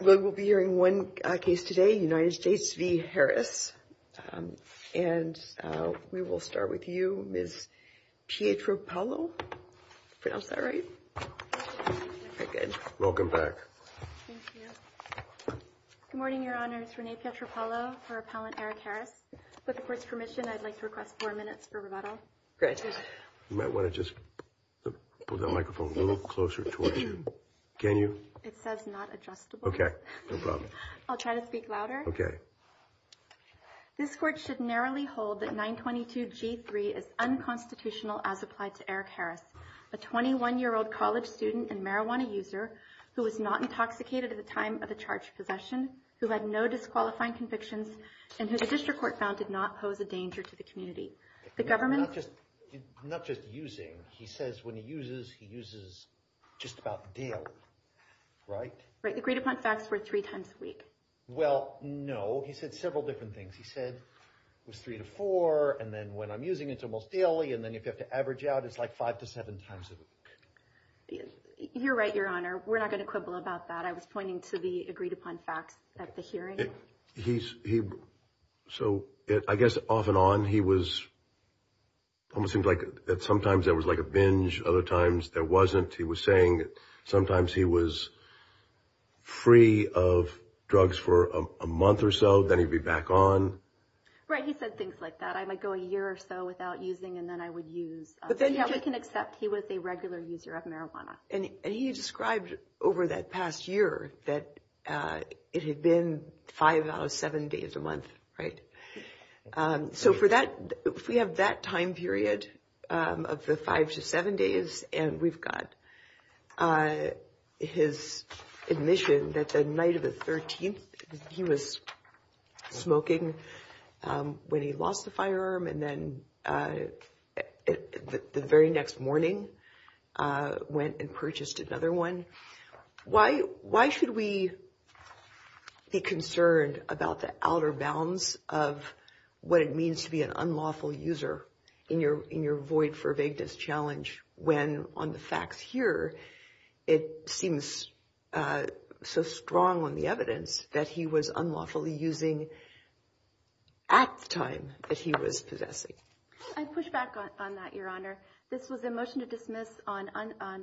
We will be hearing one case today, United States v. Harris, and we will start with you, Ms. Pietropoulou. Did I pronounce that right? Very good. Welcome back. Thank you. Good morning, Your Honors. Renee Pietropoulou for Appellant Erik Harris. With the Court's permission, I'd like to request four minutes for rebuttal. Great. You might want to just move that microphone a little closer towards you. Can you? It says not adjustable. No problem. I'll try to speak louder. Okay. This Court should narrowly hold that 922G3 is unconstitutional as applied to Erik Harris, a 21-year-old college student and marijuana user who was not intoxicated at the time of the charge of possession, who had no disqualifying convictions, and who the District Court found did not pose a danger to the community. The government… Not just using. He says when he uses, he uses just about daily, right? Right. Agreed-upon facts were three times a week. Well, no. He said several different things. He said it was three to four, and then when I'm using it's almost daily, and then if you have to average out, it's like five to seven times a week. You're right, Your Honor. We're not going to quibble about that. I was pointing to the agreed-upon facts at the hearing. He… So, I guess off and on, he was… Almost seemed like sometimes there was like a binge, other times there wasn't. He was saying sometimes he was free of drugs for a month or so, then he'd be back on. Right. He said things like that. I might go a year or so without using, and then I would use. But then… Yeah, we can accept he was a regular user of marijuana. And he described over that past year that it had been five out of seven days a month, right? So, for that, if we have that time period of the five to seven days, and we've got his admission that the night of the 13th, he was smoking when he lost the firearm, and then the very next morning went and purchased another one, why should we be concerned about the outer bounds of what it means to be an unlawful user in your void for vagueness challenge when, on the facts here, it seems so strong on the evidence that he was unlawfully using at the time that he was possessing? I'd push back on that, Your Honor. This was a motion to dismiss on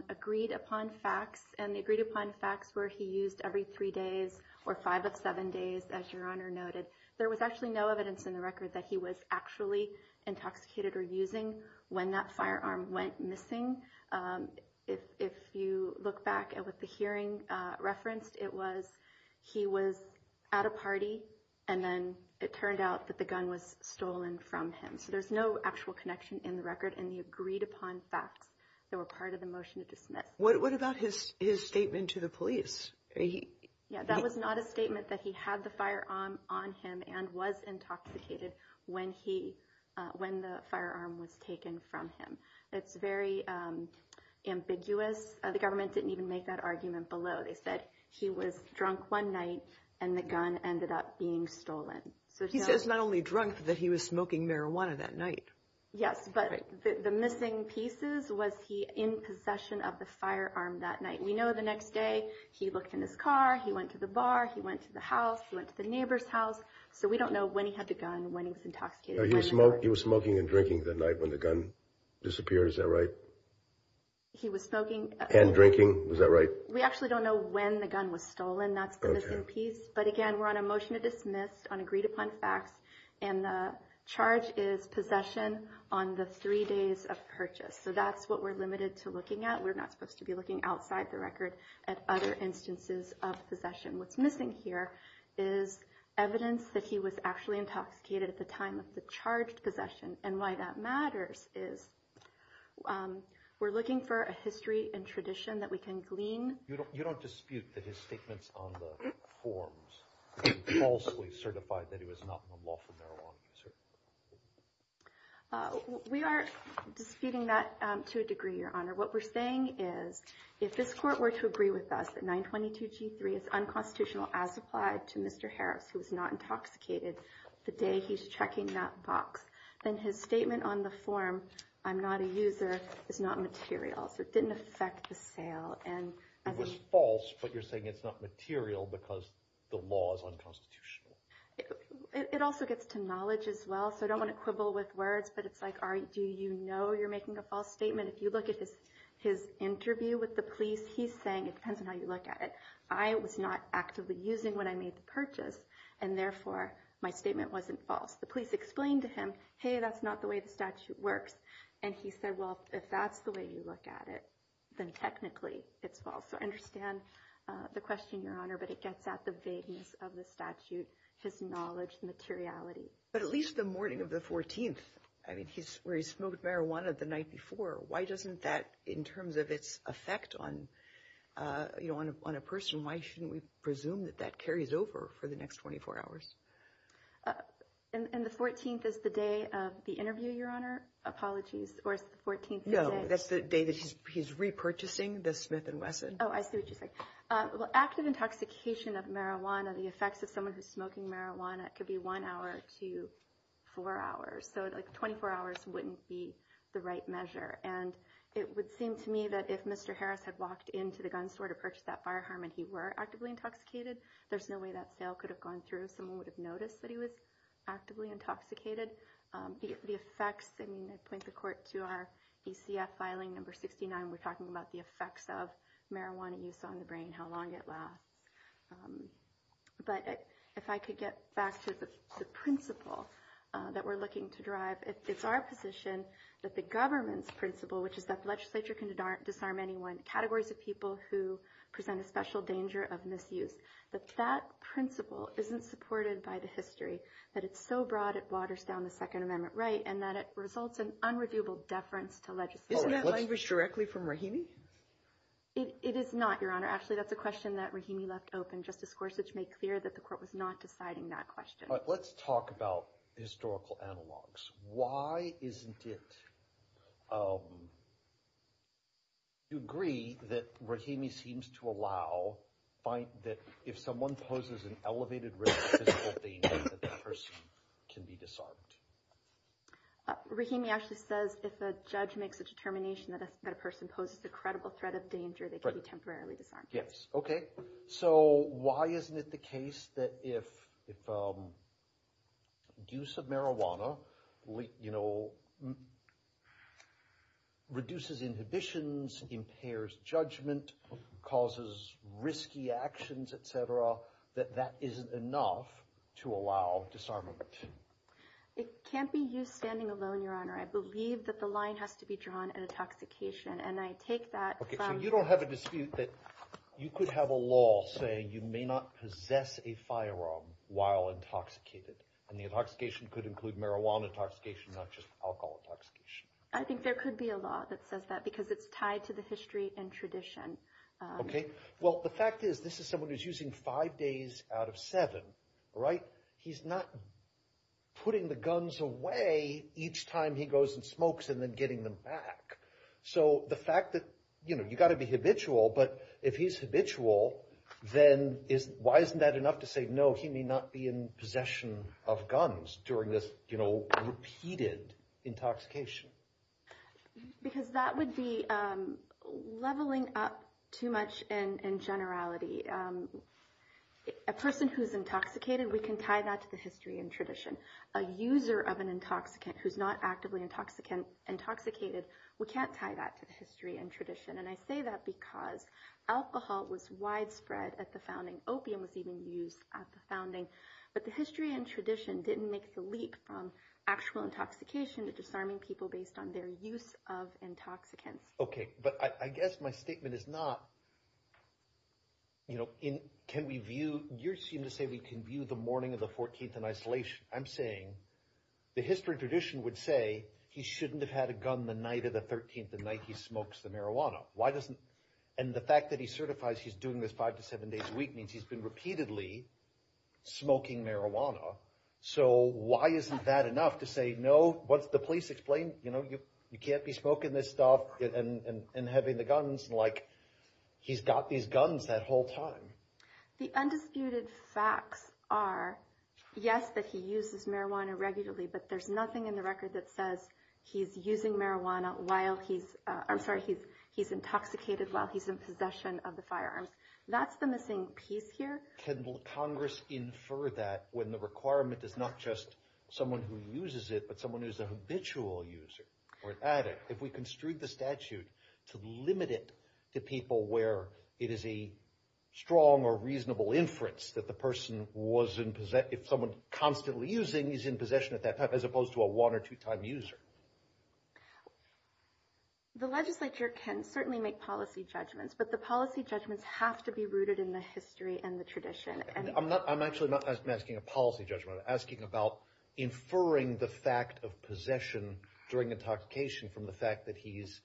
agreed-upon facts, and the agreed-upon facts were he used every three days or five of seven days, as Your Honor noted. There was actually no evidence in the record that he was actually intoxicated or using when that firearm went missing. If you look back at what the hearing referenced, it was he was at a party, and then it turned out that the gun was stolen from him. So, there's no actual connection in the record in the agreed-upon facts that were part of the motion to dismiss. What about his statement to the police? Yeah, that was not a statement that he had the firearm on him and was intoxicated when the firearm was taken from him. It's very ambiguous. The government didn't even make that argument below. They said he was drunk one night, and the gun ended up being stolen. He says not only drunk, but that he was smoking marijuana that night. Yes, but the missing pieces was he in possession of the firearm that night. We know the next day he looked in his car, he went to the bar, he went to the house, he went to the neighbor's house. So, we don't know when he had the gun, when he was intoxicated. He was smoking and drinking that night when the gun disappeared. Is that right? He was smoking and drinking. Is that right? We actually don't know when the gun was stolen. That's the missing piece. But again, we're on a motion to dismiss on agreed-upon facts, and the charge is possession on the three days of purchase. So, that's what we're limited to looking at. We're not supposed to be looking outside the record at other instances of possession. What's missing here is evidence that he was actually intoxicated at the time of the charged possession. And why that matters is we're looking for a history and tradition that we can glean. You don't dispute that his statements on the forms are falsely certified that he was not on the law for marijuana possession? We are disputing that to a degree, Your Honor. What we're saying is if this court were to agree with us that 922 G3 is unconstitutional as applied to Mr. Harris, who was not intoxicated the day he's checking that box, then his statement on the form, I'm not a user, is not material. So, it didn't affect the sale. It was false, but you're saying it's not material because the law is unconstitutional. It also gets to knowledge as well. So, I don't want to quibble with words, but it's like, all right, do you know you're making a false statement? If you look at his interview with the police, he's saying it depends on how you look at it. I was not actively using when I made the purchase, and therefore my statement wasn't false. The police explained to him, hey, that's not the way the statute works. And he said, well, if that's the way you look at it, then technically it's false. So, I understand the question, Your Honor, but it gets at the vagueness of the statute, his knowledge, the materiality. But at least the morning of the 14th, where he smoked marijuana the night before, why doesn't that, in terms of its effect on a person, why shouldn't we presume that that carries over for the next 24 hours? And the 14th is the day of the interview, Your Honor? Apologies. Or is the 14th the day? No, that's the day that he's repurchasing the Smith & Wesson. Oh, I see what you're saying. Well, active intoxication of marijuana, the effects of someone who's smoking marijuana, that could be one hour to four hours. So, like, 24 hours wouldn't be the right measure. And it would seem to me that if Mr. Harris had walked into the gun store to purchase that firearm and he were actively intoxicated, there's no way that sale could have gone through. Someone would have noticed that he was actively intoxicated. The effects, I mean, I point the court to our ECF filing, number 69. We're talking about the effects of marijuana use on the brain, how long it lasts. But if I could get back to the principle that we're looking to drive, it's our position that the government's principle, which is that the legislature can disarm anyone, categories of people who present a special danger of misuse, that that principle isn't supported by the history, that it's so broad it waters down the Second Amendment right, and that it results in unreviewable deference to legislation. Isn't that language directly from Rahimi? It is not, Your Honor. Actually, that's a question that Rahimi left open. Justice Gorsuch made clear that the court was not deciding that question. Let's talk about historical analogs. Why isn't it, do you agree that Rahimi seems to allow that if someone poses an elevated risk of physical danger, that that person can be disarmed? Rahimi actually says if a judge makes a determination that a person poses a credible threat of danger, they can be temporarily disarmed. Yes. Okay. So why isn't it the case that if use of marijuana reduces inhibitions, impairs judgment, causes risky actions, et cetera, that that isn't enough to allow disarmament? It can't be used standing alone, Your Honor. I believe that the line has to be drawn at intoxication, and I take that from- So you don't have a dispute that you could have a law saying you may not possess a firearm while intoxicated, and the intoxication could include marijuana intoxication, not just alcohol intoxication. I think there could be a law that says that because it's tied to the history and tradition. Okay. Well, the fact is, this is someone who's using five days out of seven, right? He's not putting the guns away each time he goes and smokes and then getting them back. So the fact that you've got to be habitual, but if he's habitual, then why isn't that enough to say, no, he may not be in possession of guns during this repeated intoxication? Because that would be leveling up too much in generality. A person who's intoxicated, we can tie that to the history and tradition. A user of an intoxicant who's not actively intoxicated, we can't tie that to the history and tradition. And I say that because alcohol was widespread at the founding. Opium was even used at the founding. But the history and tradition didn't make the leap from actual intoxication to disarming people based on their use of intoxicants. Okay. But I guess my statement is not, you seem to say we can view the morning of the 14th in isolation. I'm saying the history and tradition would say he shouldn't have had a gun the night of the 13th, the night he smokes the marijuana. And the fact that he certifies he's doing this five to seven days a week means he's been repeatedly smoking marijuana. So why isn't that enough to say, no, what's the police explain? You can't be smoking this stuff and having the guns. He's got these guns that whole time. The undisputed facts are, yes, that he uses marijuana regularly, but there's nothing in the record that says he's using marijuana while he's, I'm sorry, he's intoxicated while he's in possession of the firearms. That's the missing piece here. Can Congress infer that when the requirement is not just someone who uses it, but someone who's a habitual user or an addict? If we construed the statute to limit it to people where it is a strong or reasonable inference that the person was in possession, if someone constantly using is in possession at that time, as opposed to a one or two time user. The legislature can certainly make policy judgments, but the policy judgments have to be rooted in the history and the tradition. And I'm not, I'm actually not asking a policy judgment. I'm asking about inferring the fact of possession during intoxication from the fact that he's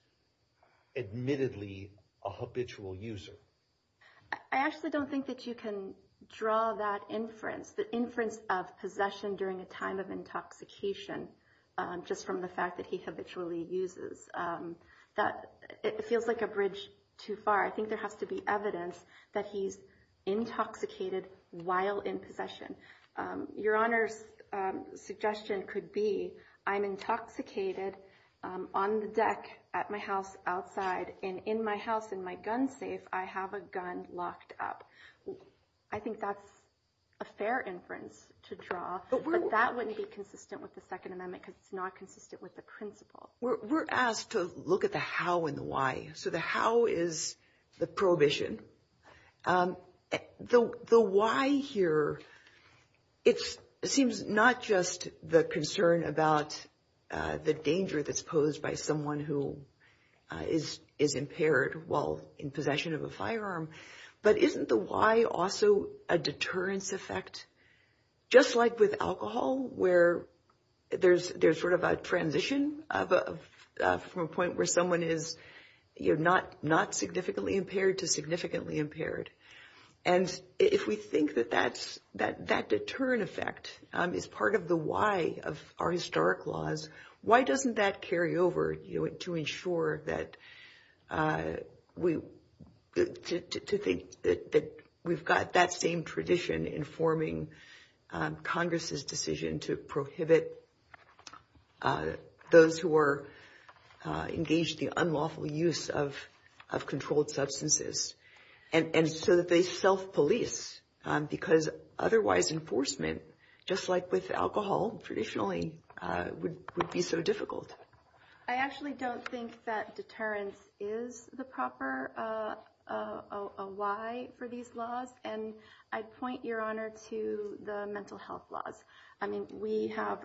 admittedly a habitual user. I actually don't think that you can draw that inference. The inference of possession during a time of intoxication, just from the fact that he habitually uses, that it feels like a bridge too far. I think there has to be evidence that he's intoxicated while in possession. Your Honor's suggestion could be, I'm intoxicated on the deck at my house outside. And in my house, in my gun safe, I have a gun locked up. I think that's a fair inference to draw. But that wouldn't be consistent with the Second Amendment because it's not consistent with the principle. We're asked to look at the how and the why. So the how is the prohibition. The why here, it seems not just the concern about the danger that's posed by someone who is impaired while in possession of a firearm. But isn't the why also a deterrence effect? Just like with alcohol, where there's sort of a transition from a point where someone is not significantly impaired to significantly impaired. And if we think that that deterrent effect is part of the why of our historic laws, why doesn't that carry over to ensure that we, to think that we've got that same tradition in forming Congress's decision to prohibit those who are engaged in unlawful use of controlled substances. And so that they self-police because otherwise enforcement, just like with alcohol traditionally, would be so difficult. I actually don't think that deterrence is the proper why for these laws. And I'd point, Your Honor, to the mental health laws. I mean, we have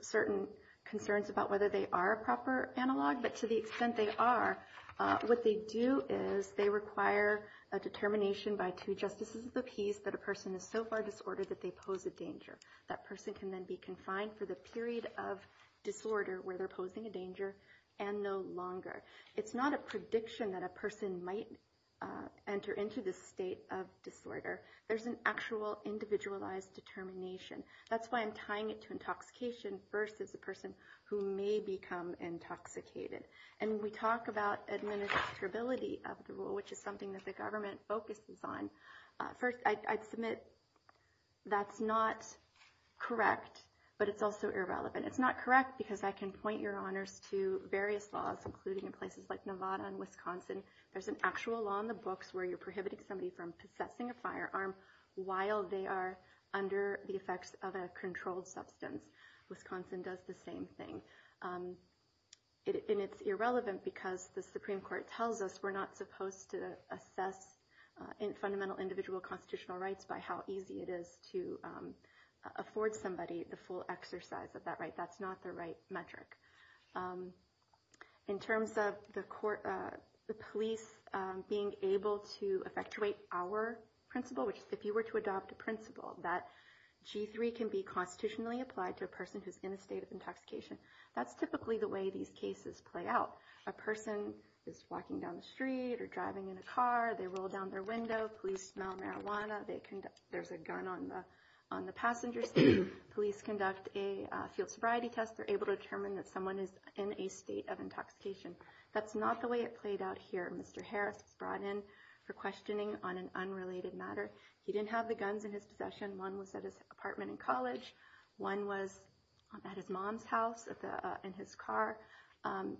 certain concerns about whether they are a proper analog. But to the extent they are, what they do is they require a determination by two justices of the peace that a person is so far disordered that they pose a danger. That person can then be confined for the period of disorder where they're posing a danger and no longer. It's not a prediction that a person might enter into this state of disorder. There's an actual individualized determination. That's why I'm tying it to intoxication versus a person who may become intoxicated. And we talk about administrability of the rule, which is something that the government focuses on. First, I'd submit that's not correct, but it's also irrelevant. It's not correct because I can point, Your Honors, to various laws, including in places like Nevada and Wisconsin. There's an actual law in the books where you're prohibiting somebody from possessing a firearm while they are under the effects of a controlled substance. Wisconsin does the same thing. And it's irrelevant because the Supreme Court tells us we're not supposed to assess fundamental individual constitutional rights by how easy it is to afford somebody the full exercise of that right. That's not the right metric. In terms of the police being able to effectuate our principle, which is if you were to adopt a principle that G3 can be constitutionally applied to a person who's in a state of intoxication, that's typically the way these cases play out. A person is walking down the street or driving in a car. They roll down their window. Police smell marijuana. There's a gun on the passenger seat. Police conduct a field sobriety test. They're able to determine that someone is in a state of intoxication. That's not the way it played out here. Mr. Harris was brought in for questioning on an unrelated matter. He didn't have the guns in his possession. One was at his apartment in college. One was at his mom's house in his car.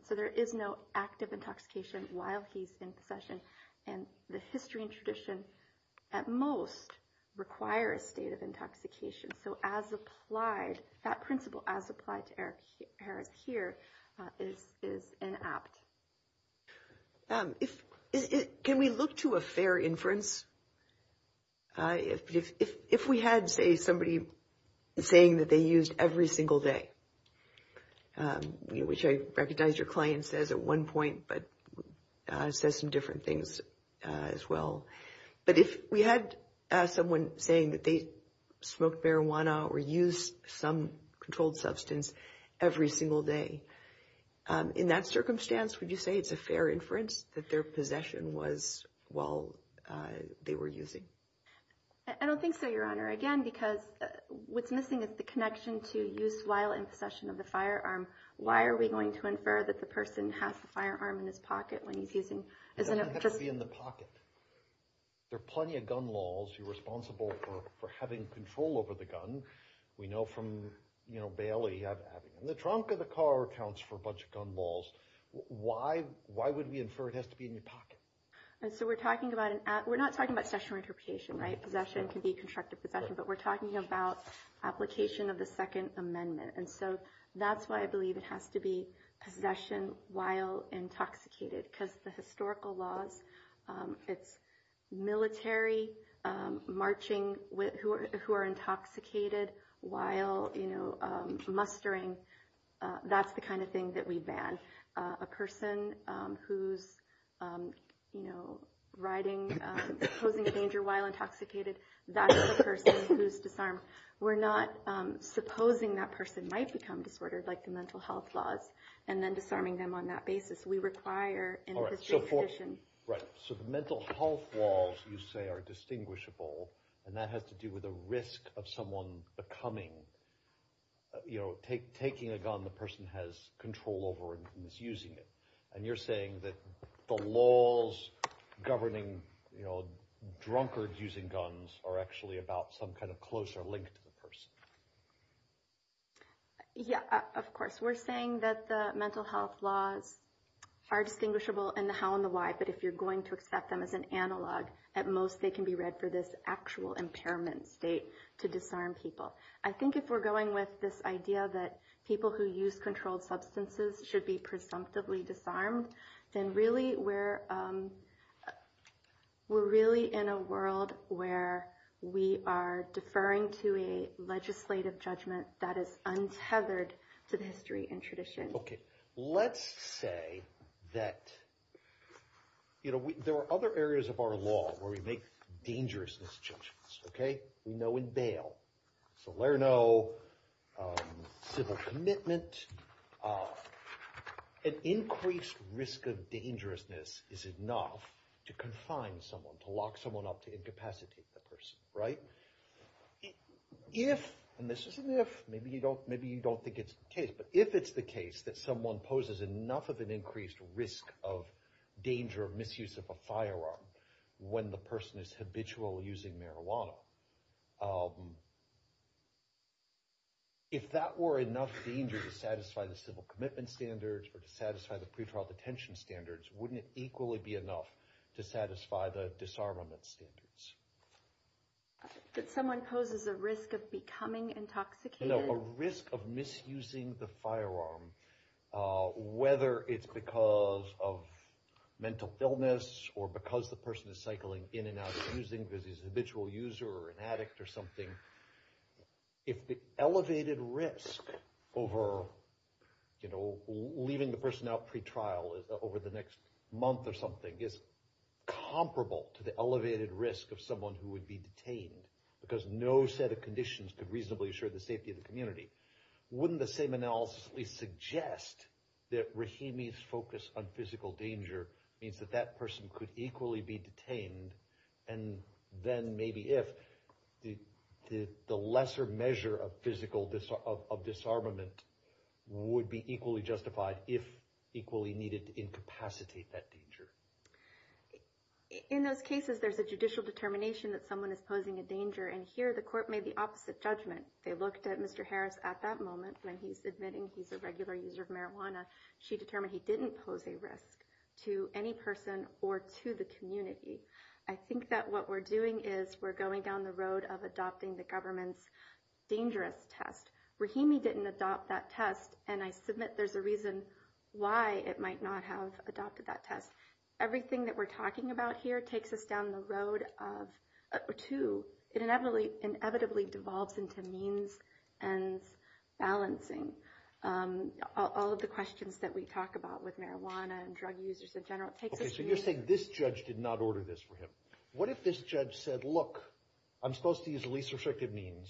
So there is no active intoxication while he's in possession. And the history and tradition, at most, require a state of intoxication. So as applied, that principle as applied to Eric Harris here is inapt. Can we look to a fair inference? If we had, say, somebody saying that they used every single day, which I recognize your client says at one point, but says some different things as well. But if we had someone saying that they smoked marijuana or used some controlled substance every single day, in that circumstance, would you say it's a fair inference that their possession was while they were using? I don't think so, Your Honor. Again, because what's missing is the connection to use while in possession of the firearm. Why are we going to infer that the person has the firearm in his pocket when he's using? It doesn't have to be in the pocket. There are plenty of gun laws. You're responsible for having control over the gun. We know from Bailey, and the trunk of the car accounts for a bunch of gun laws. Why would we infer it has to be in your pocket? And so we're talking about an act. We're not talking about possession or interpretation, right? Possession can be constructed possession. But we're talking about application of the Second Amendment. And so that's why I believe it has to be possession while intoxicated. Because the historical laws, it's military marching who are intoxicated while mustering. That's the kind of thing that we ban. A person who's riding, posing a danger while intoxicated, that's a person who's disarmed. We're not supposing that person might become disordered, like the mental health laws, and then disarming them on that basis. All right. So the mental health laws, you say, are distinguishable. And that has to do with the risk of someone taking a gun the person has control over and is using it. And you're saying that the laws governing drunkards using guns are actually about some kind of closer link to the person. Yeah, of course. We're saying that the mental health laws are distinguishable in the how and the why. But if you're going to accept them as an analog, at most they can be read for this actual impairment state to disarm people. I think if we're going with this idea that people who use controlled substances should be presumptively disarmed, then really we're in a world where we are deferring to a legislative judgment that is untethered to the history and tradition. OK. Let's say that there are other areas of our law where we make dangerous misjudgements. We know in bail, Salerno, civil commitment, an increased risk of dangerousness is enough to confine someone, to lock someone up, to incapacitate the person. If, and this is an if, maybe you don't think it's the case, but if it's the case that someone poses enough of an increased risk of danger of misuse of a firearm when the person is habitual using marijuana, if that were enough danger to satisfy the civil commitment standards or to satisfy the pretrial detention standards, wouldn't it equally be enough to satisfy the disarmament standards? That someone poses a risk of becoming intoxicated? A risk of misusing the firearm, whether it's because of mental illness or because the person is cycling in and out of using, because he's a habitual user or an addict or something, if the elevated risk over leaving the person out pretrial over the next month or something is comparable to the elevated risk of someone who would be detained, because no set of conditions could reasonably assure the safety of the community, wouldn't the same analysis at least suggest that Rahimi's focus on physical danger means that that person could equally be detained and then maybe if the lesser measure of physical disarmament would be equally justified if equally needed to incapacitate that danger? In those cases there's a judicial determination that someone is posing a danger and here the court made the opposite judgment. They looked at Mr. Harris at that moment when he's admitting he's a regular user of marijuana. She determined he didn't pose a risk to any person or to the community. I think that what we're doing is we're going down the road of adopting the government's dangerous test. Rahimi didn't adopt that test and I submit there's a reason why it might not have adopted that test. Everything that we're talking about here takes us down the road of two, it inevitably devolves into means and balancing. All of the questions that we talk about with marijuana and drug users in general, it takes us... Okay, so you're saying this judge did not order this for him. What if this judge said, look, I'm supposed to use the least restrictive means.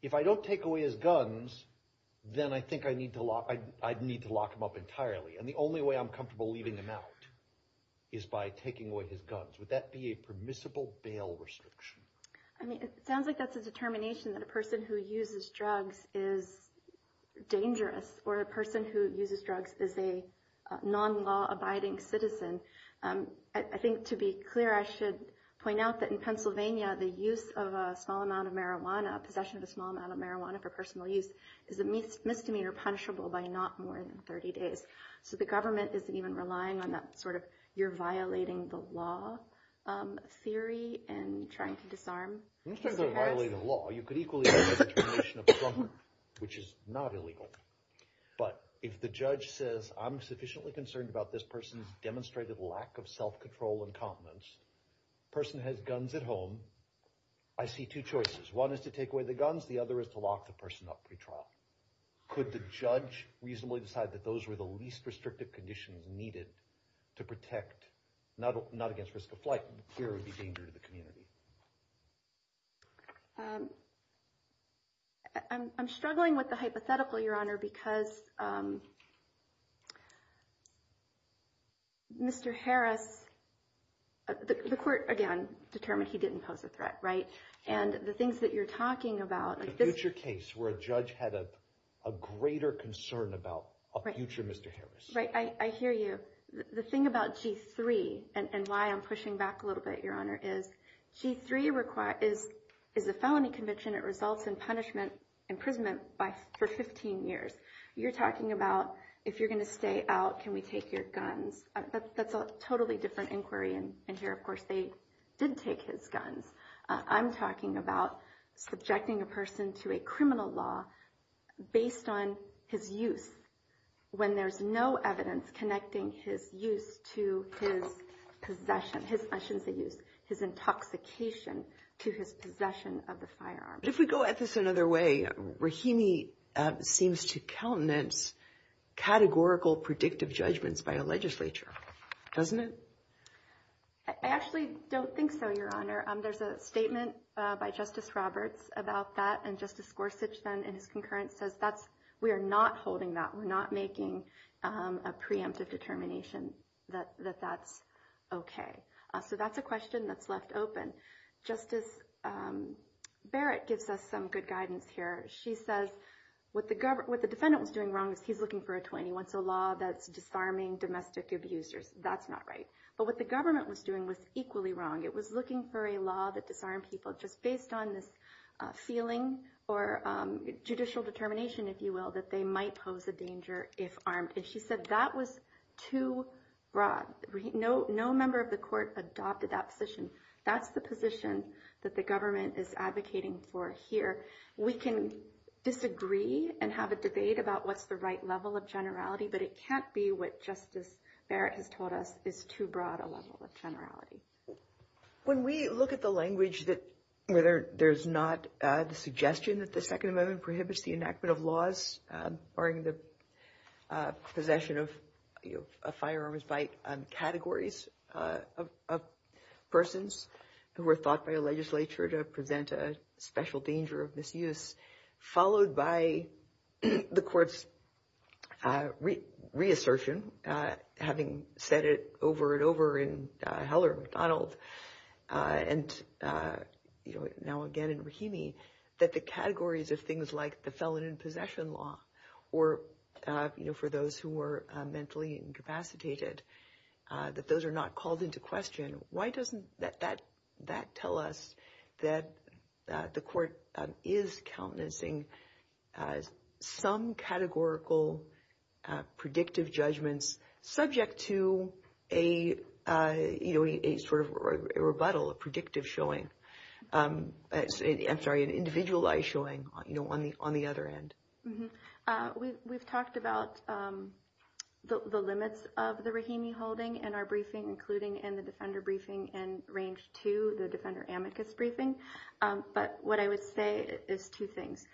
If I don't take away his guns, then I think I'd need to lock him up entirely. And the only way I'm comfortable leaving him out is by taking away his guns. Would that be a permissible bail restriction? I mean, it sounds like that's a determination that a person who uses drugs is dangerous or a person who uses drugs is a non-law abiding citizen. I think to be clear, I should point out that in Pennsylvania, the use of a small amount of marijuana, possession of a small amount of marijuana for personal use is a misdemeanor punishable by not more than 30 days. So the government isn't even relying on that sort of you're violating the law theory and trying to disarm Mr. Harris. You're not trying to violate the law. You could equally have a determination of a drunkard, which is not illegal. But if the judge says, I'm sufficiently concerned about this person's demonstrated lack of self-control and confidence, person has guns at home, I see two choices. One is to take away the guns. The other is to lock the person up pretrial. Could the judge reasonably decide that those were the least restrictive conditions needed to protect, not against risk of flight, clearly danger to the community? I'm struggling with the hypothetical, Your Honor, because Mr. Harris, the court, again, determined he didn't pose a threat, right? And the things that you're talking about. The future case where a judge had a greater concern about a future Mr. Harris. Right. I hear you. The thing about G3 and why I'm pushing back a little bit, Your Honor, is G3 is a felony conviction. It results in punishment, imprisonment for 15 years. You're talking about if you're going to stay out, can we take your guns? That's a totally different inquiry. And here, of course, they did take his guns. I'm talking about subjecting a person to a criminal law based on his use when there's no evidence connecting his use to his possession, his intoxication to his possession of the firearm. If we go at this another way, Rahimi seems to countenance categorical predictive judgments by a legislature, doesn't it? I actually don't think so, Your Honor. There's a statement by Justice Roberts about that. And Justice Gorsuch, then, in his concurrence, says we are not holding that. We're not making a preemptive determination that that's okay. So that's a question that's left open. Justice Barrett gives us some good guidance here. She says what the defendant was doing wrong is he's looking for a 21. It's a law that's disarming domestic abusers. That's not right. But what the government was doing was equally wrong. It was looking for a law that disarmed people just based on this feeling or judicial determination, if you will, that they might pose a danger if armed. And she said that was too broad. No member of the court adopted that position. That's the position that the government is advocating for here. We can disagree and have a debate about what's the right level of generality, but it can't be what Justice Barrett has told us is too broad a level of generality. When we look at the language that whether there's not the suggestion that the Second Amendment prohibits the enactment of laws, barring the possession of firearms by categories of persons who were thought by a legislature to present a special danger of misuse, followed by the court's reassertion, having said it over and over in Heller, McDonald, and now again in Rahimi, that the categories of things like the felon in possession law or for those who were mentally incapacitated, that those are not called into question. Why doesn't that tell us that the court is countenancing some categorical predictive judgments subject to a sort of rebuttal, a predictive showing? I'm sorry, an individualized showing on the other end. We've talked about the limits of the Rahimi holding in our briefing, including in the defender briefing and range to the defender amicus briefing. But what I would say is two things.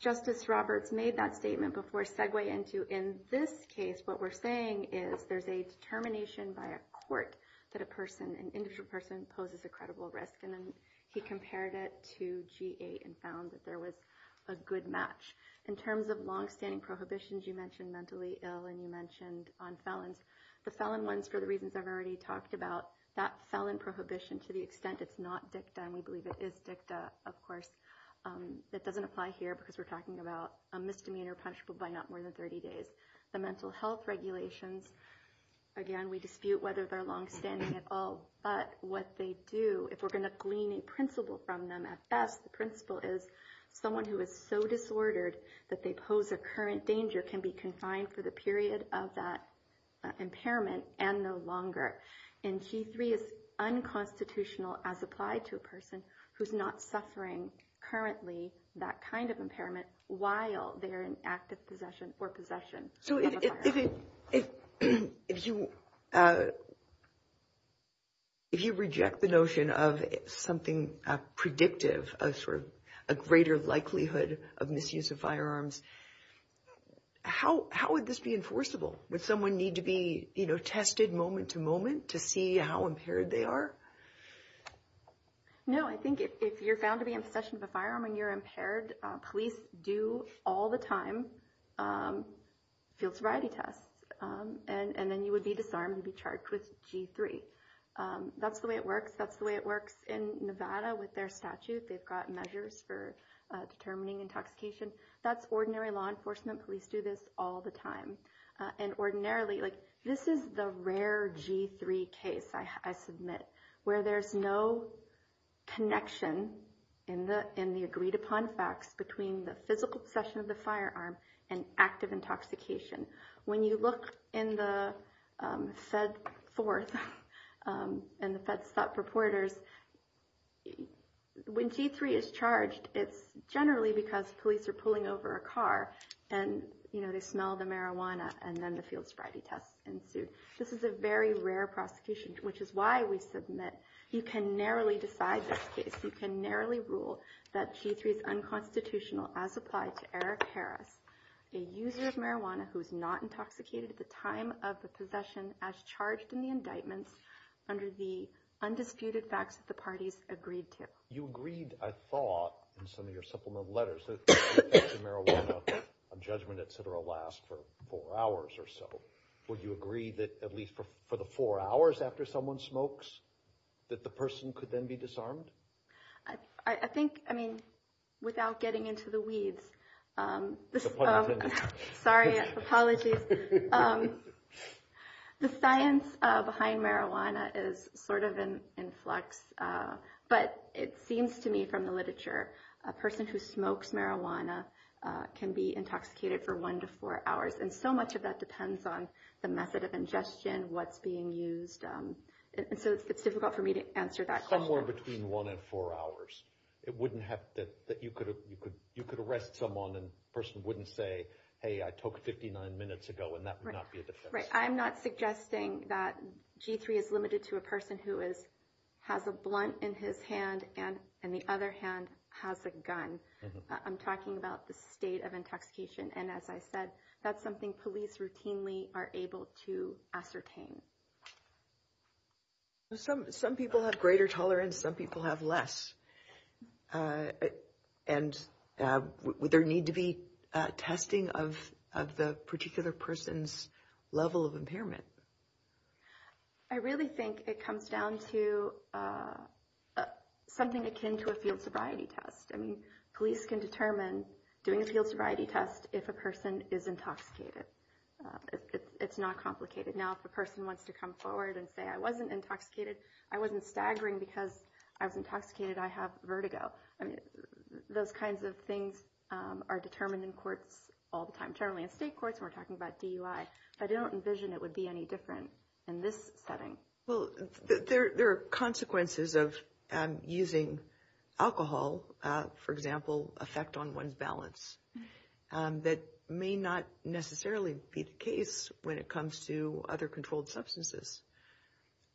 Justice Roberts made that statement before segue into in this case, what we're saying is there's a determination by a court that a person, an individual person, poses a credible risk. And then he compared it to G8 and found that there was a good match. In terms of longstanding prohibitions, you mentioned mentally ill and you mentioned on felons. The felon ones, for the reasons I've already talked about, that felon prohibition, to the extent it's not dicta, and we believe it is dicta, of course, that doesn't apply here because we're talking about a misdemeanor punishable by not more than 30 days. The mental health regulations, again, we dispute whether they're longstanding at all, but what they do, if we're going to glean a principle from them at best, the principle is someone who is so disordered that they pose a current danger can be confined for the period of that impairment and no longer. And G3 is unconstitutional as applied to a person who's not suffering currently that kind of impairment while they're in active possession or possession. So if you reject the notion of something predictive of sort of a greater likelihood of misuse of firearms, how would this be enforceable? Would someone need to be tested moment to moment to see how impaired they are? No, I think if you're found to be in possession of a firearm and you're impaired, police do all the time field sobriety tests. And then you would be disarmed and be charged with G3. That's the way it works. That's the way it works in Nevada with their statute. They've got measures for determining intoxication. That's ordinary law enforcement. Police do this all the time. And ordinarily, like this is the rare G3 case, I submit, where there's no connection in the agreed upon facts between the physical possession of the firearm and active intoxication. When you look in the FedForth and the FedStop reporters, when G3 is charged, it's generally because police are pulling over a car and they smell the marijuana and then the field sobriety tests ensue. This is a very rare prosecution, which is why we submit you can narrowly decide this case. You can narrowly rule that G3 is unconstitutional as applied to Eric Harris, a user of marijuana who is not intoxicated at the time of the possession as charged in the indictments under the undisputed facts that the parties agreed to. You agreed, I thought, in some of your supplement letters that marijuana judgment, et cetera, lasts for four hours or so. Would you agree that at least for the four hours after someone smokes, that the person could then be disarmed? I think, I mean, without getting into the weeds, sorry, apologies. The science behind marijuana is sort of in flux, but it seems to me from the literature, a person who smokes marijuana can be intoxicated for one to four hours. And so much of that depends on the method of ingestion, what's being used. And so it's difficult for me to answer that question. Somewhere between one and four hours. It wouldn't have, you could arrest someone and the person wouldn't say, hey, I took 59 minutes ago, and that would not be a defense. Right, I'm not suggesting that G3 is limited to a person who has a blunt in his hand and the other hand has a gun. I'm talking about the state of intoxication. And as I said, that's something police routinely are able to ascertain. Some people have greater tolerance, some people have less. And would there need to be testing of the particular person's level of impairment? I really think it comes down to something akin to a field sobriety test. I mean, police can determine doing a field sobriety test if a person is intoxicated. It's not complicated. Now, if a person wants to come forward and say, I wasn't intoxicated, I wasn't staggering because I was intoxicated, I have vertigo. I mean, those kinds of things are determined in courts all the time, generally in state courts. We're talking about DUI. I don't envision it would be any different in this setting. Well, there are consequences of using alcohol, for example, effect on one's balance. That may not necessarily be the case when it comes to other controlled substances.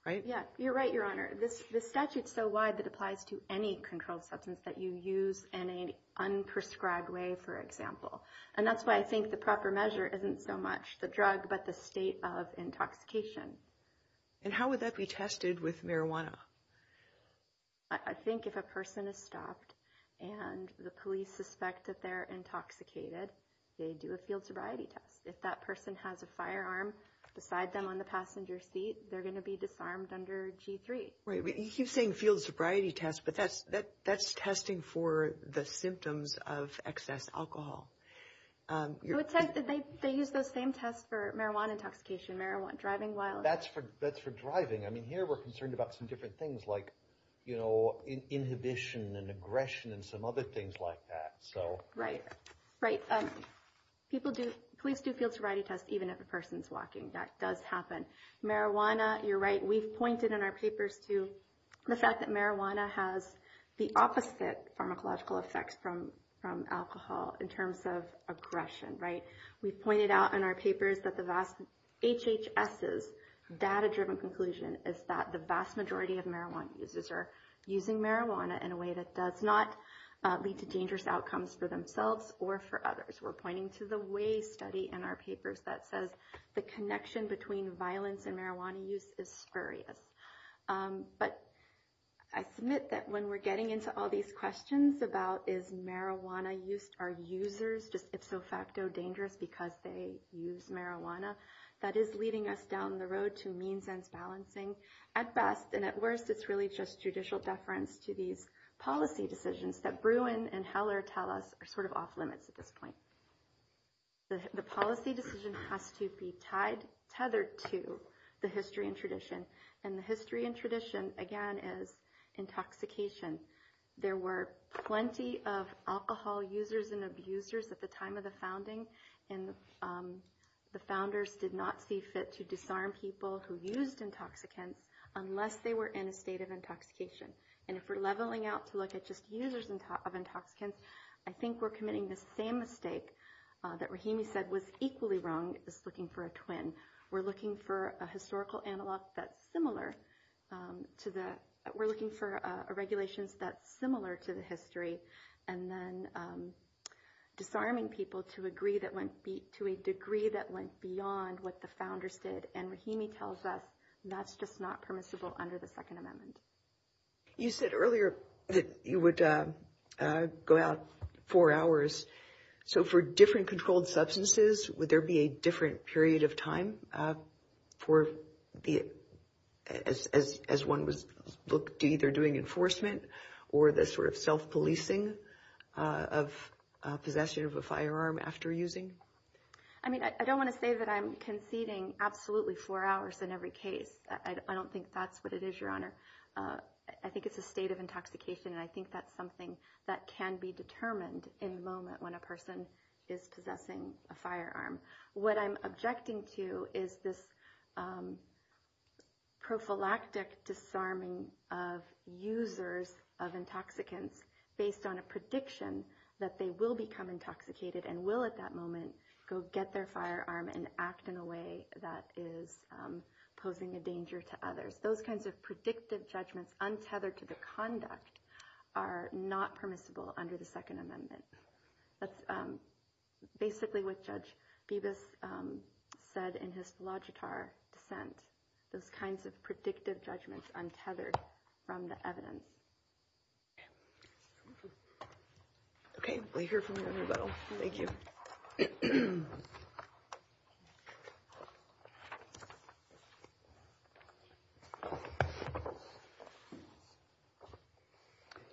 Right? Yeah, you're right, Your Honor. The statute is so wide that it applies to any controlled substance that you use in an unprescribed way, for example. And that's why I think the proper measure isn't so much the drug but the state of intoxication. And how would that be tested with marijuana? I think if a person is stopped and the police suspect that they're intoxicated, they do a field sobriety test. If that person has a firearm beside them on the passenger seat, they're going to be disarmed under G3. Right. You keep saying field sobriety test, but that's testing for the symptoms of excess alcohol. They use those same tests for marijuana intoxication, marijuana driving while... That's for driving. I mean, here we're concerned about some different things like, you know, inhibition and aggression and some other things like that. Right. Police do field sobriety tests even if a person's walking. That does happen. Marijuana, you're right, we've pointed in our papers to the fact that marijuana has the opposite pharmacological effects from alcohol in terms of aggression. Right. We've pointed out in our papers that the vast HHS's data-driven conclusion is that the vast majority of marijuana users are using marijuana in a way that does not lead to dangerous outcomes for themselves or for others. We're pointing to the way study in our papers that says the connection between violence and marijuana use is spurious. But I submit that when we're getting into all these questions about is marijuana used, are users just ifso facto dangerous because they use marijuana, that is leading us down the road to means-ends balancing. At best and at worst, it's really just judicial deference to these policy decisions that Bruin and Heller tell us are sort of off-limits at this point. The policy decision has to be tethered to the history and tradition. And the history and tradition, again, is intoxication. There were plenty of alcohol users and abusers at the time of the founding, and the founders did not see fit to disarm people who used intoxicants unless they were in a state of intoxication. And if we're leveling out to look at just users of intoxicants, I think we're committing the same mistake that Rahimi said was equally wrong, is looking for a twin. We're looking for a historical analog that's similar to the... We're looking for regulations that's similar to the history, and then disarming people to a degree that went beyond what the founders did. And Rahimi tells us that's just not permissible under the Second Amendment. You said earlier that you would go out four hours. So for different controlled substances, would there be a different period of time as one was either doing enforcement or the sort of self-policing of possession of a firearm after using? I mean, I don't want to say that I'm conceding absolutely four hours in every case. I don't think that's what it is, Your Honor. I think it's a state of intoxication, and I think that's something that can be determined in the moment when a person is possessing a firearm. What I'm objecting to is this prophylactic disarming of users of intoxicants based on a prediction that they will become intoxicated and will at that moment go get their firearm and act in a way that is posing a danger to others. Those kinds of predictive judgments untethered to the conduct are not permissible under the Second Amendment. That's basically what Judge Bibas said in his Logitar dissent, those kinds of predictive judgments untethered from the evidence. Okay, we'll hear from you in rebuttal. Thank you.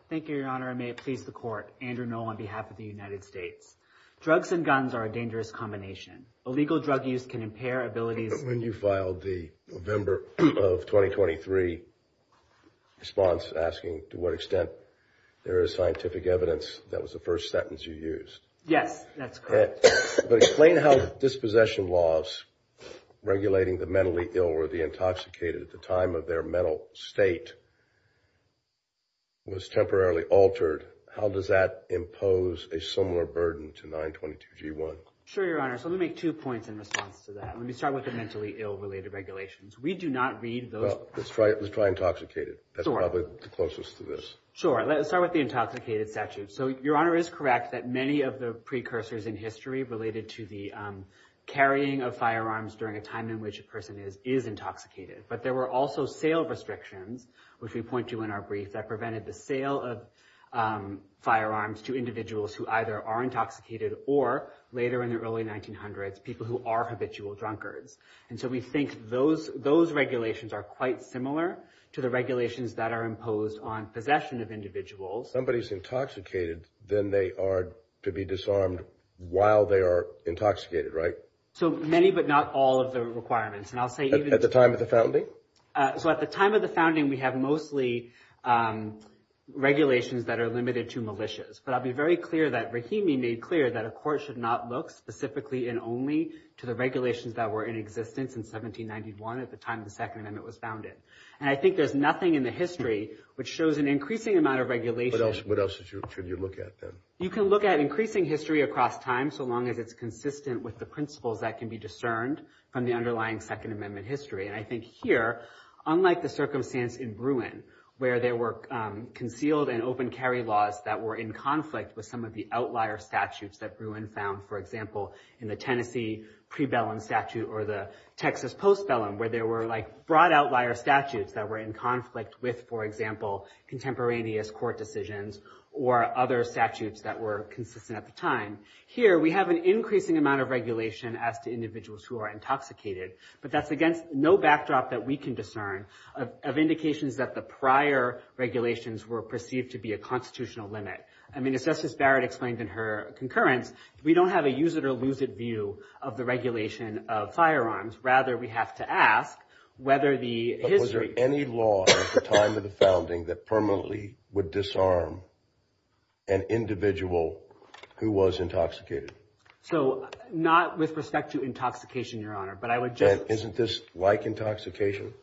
Thank you, Your Honor, and may it please the Court. Andrew Noll on behalf of the United States. Drugs and guns are a dangerous combination. Illegal drug use can impair abilities. When you filed the November of 2023 response asking to what extent there is scientific evidence, that was the first sentence you used. Yes, that's correct. Explain how dispossession laws regulating the mentally ill or the intoxicated at the time of their mental state was temporarily altered. How does that impose a similar burden to 922G1? Sure, Your Honor. So let me make two points in response to that. Let me start with the mentally ill-related regulations. We do not read those. Let's try intoxicated. That's probably the closest to this. Sure. Let's start with the intoxicated statute. So Your Honor is correct that many of the precursors in history related to the carrying of firearms during a time in which a person is intoxicated. But there were also sale restrictions, which we point to in our brief, that prevented the sale of firearms to individuals who either are intoxicated or, later in the early 1900s, people who are habitual drunkards. And so we think those regulations are quite similar to the regulations that are imposed on possession of individuals. If somebody is intoxicated, then they are to be disarmed while they are intoxicated, right? So many but not all of the requirements. At the time of the founding? So at the time of the founding, we have mostly regulations that are limited to militias. But I'll be very clear that Rahimi made clear that a court should not look specifically and only to the regulations that were in existence in 1791 at the time the Second Amendment was founded. And I think there's nothing in the history which shows an increasing amount of regulation. What else should you look at then? You can look at increasing history across time so long as it's consistent with the principles that can be discerned from the underlying Second Amendment history. And I think here, unlike the circumstance in Bruin, where there were concealed and open carry laws that were in conflict with some of the outlier statutes that Bruin found, for example, in the Tennessee prebellum statute or the Texas postbellum, where there were like broad outlier statutes that were in conflict with, for example, contemporaneous court decisions or other statutes that were consistent at the time. Here, we have an increasing amount of regulation as to individuals who are intoxicated. But that's against no backdrop that we can discern of indications that the prior regulations were perceived to be a constitutional limit. I mean, as Justice Barrett explained in her concurrence, we don't have a use it or lose it view of the regulation of firearms. Rather, we have to ask whether the history… But was there any law at the time of the founding that permanently would disarm an individual who was intoxicated? So, not with respect to intoxication, Your Honor, but I would just… And isn't this like intoxication?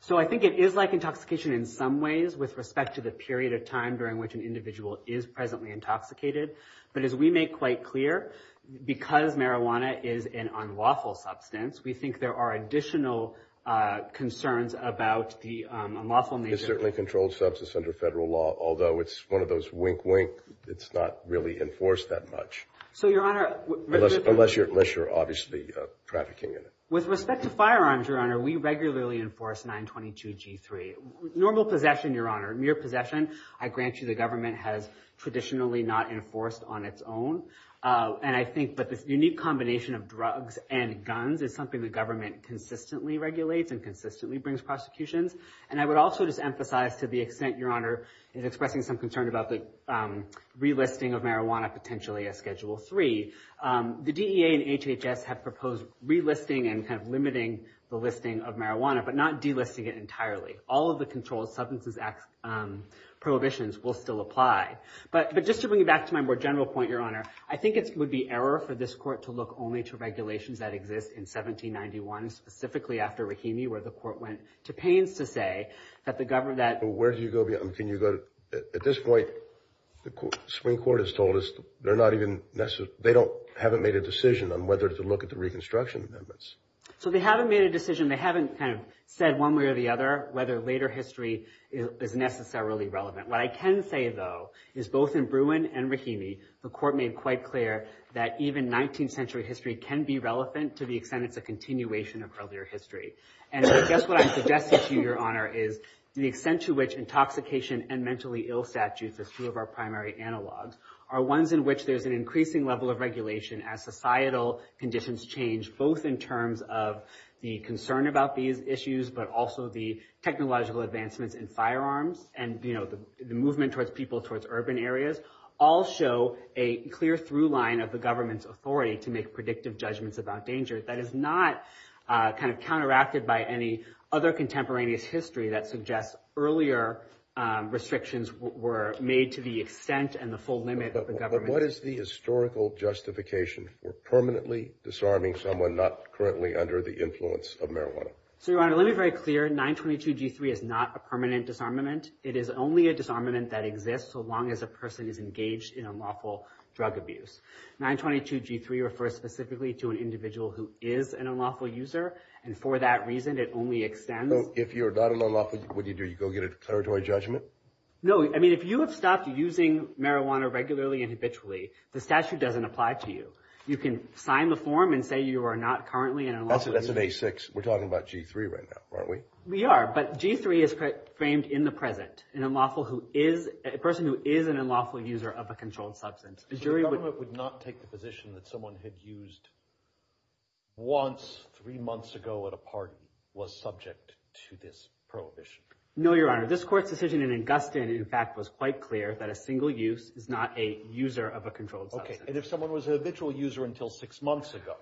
So, I think it is like intoxication in some ways with respect to the period of time during which an individual is presently intoxicated. But as we make quite clear, because marijuana is an unlawful substance, we think there are additional concerns about the unlawful nature… It's certainly a controlled substance under federal law, although it's one of those wink, wink, it's not really enforced that much. So, Your Honor… Unless you're obviously trafficking in it. With respect to firearms, Your Honor, we regularly enforce 922 G3. Normal possession, Your Honor, mere possession, I grant you the government has traditionally not enforced on its own. And I think that this unique combination of drugs and guns is something the government consistently regulates and consistently brings prosecutions. And I would also just emphasize to the extent, Your Honor, is expressing some concern about the relisting of marijuana potentially as Schedule 3. The DEA and HHS have proposed relisting and kind of limiting the listing of marijuana but not delisting it entirely. All of the controlled substances prohibitions will still apply. But just to bring it back to my more general point, Your Honor, I think it would be error for this court to look only to regulations that exist in 1791, specifically after Rahimi where the court went to pains to say that the government… Where do you go beyond… Can you go to… At this point, the Supreme Court has told us they're not even… They haven't made a decision on whether to look at the Reconstruction Amendments. So they haven't made a decision. They haven't kind of said one way or the other whether later history is necessarily relevant. What I can say, though, is both in Bruin and Rahimi, the court made quite clear that even 19th century history can be relevant to the extent it's a continuation of earlier history. And I guess what I'm suggesting to you, Your Honor, is the extent to which intoxication and mentally ill statutes, as two of our primary analogs, are ones in which there's an increasing level of regulation as societal conditions change, both in terms of the concern about these issues, but also the technological advancements in firearms and the movement towards people towards urban areas, all show a clear through line of the government's authority to make predictive judgments about danger. That is not kind of counteracted by any other contemporaneous history that suggests earlier restrictions were made to the extent and the full limit… But what is the historical justification for permanently disarming someone not currently under the influence of marijuana? So, Your Honor, let me be very clear. 922 G3 is not a permanent disarmament. It is only a disarmament that exists so long as a person is engaged in unlawful drug abuse. 922 G3 refers specifically to an individual who is an unlawful user, and for that reason, it only extends… So if you're not an unlawful user, what do you do? You go get a declaratory judgment? No. I mean, if you have stopped using marijuana regularly and habitually, the statute doesn't apply to you. You can sign the form and say you are not currently an unlawful user. That's an A6. We're talking about G3 right now, aren't we? We are, but G3 is framed in the present, a person who is an unlawful user of a controlled substance. So the government would not take the position that someone had used once three months ago at a party was subject to this prohibition? No, Your Honor. This Court's decision in Augustine, in fact, was quite clear that a single use is not a user of a controlled substance. Okay, and if someone was an habitual user until six months ago,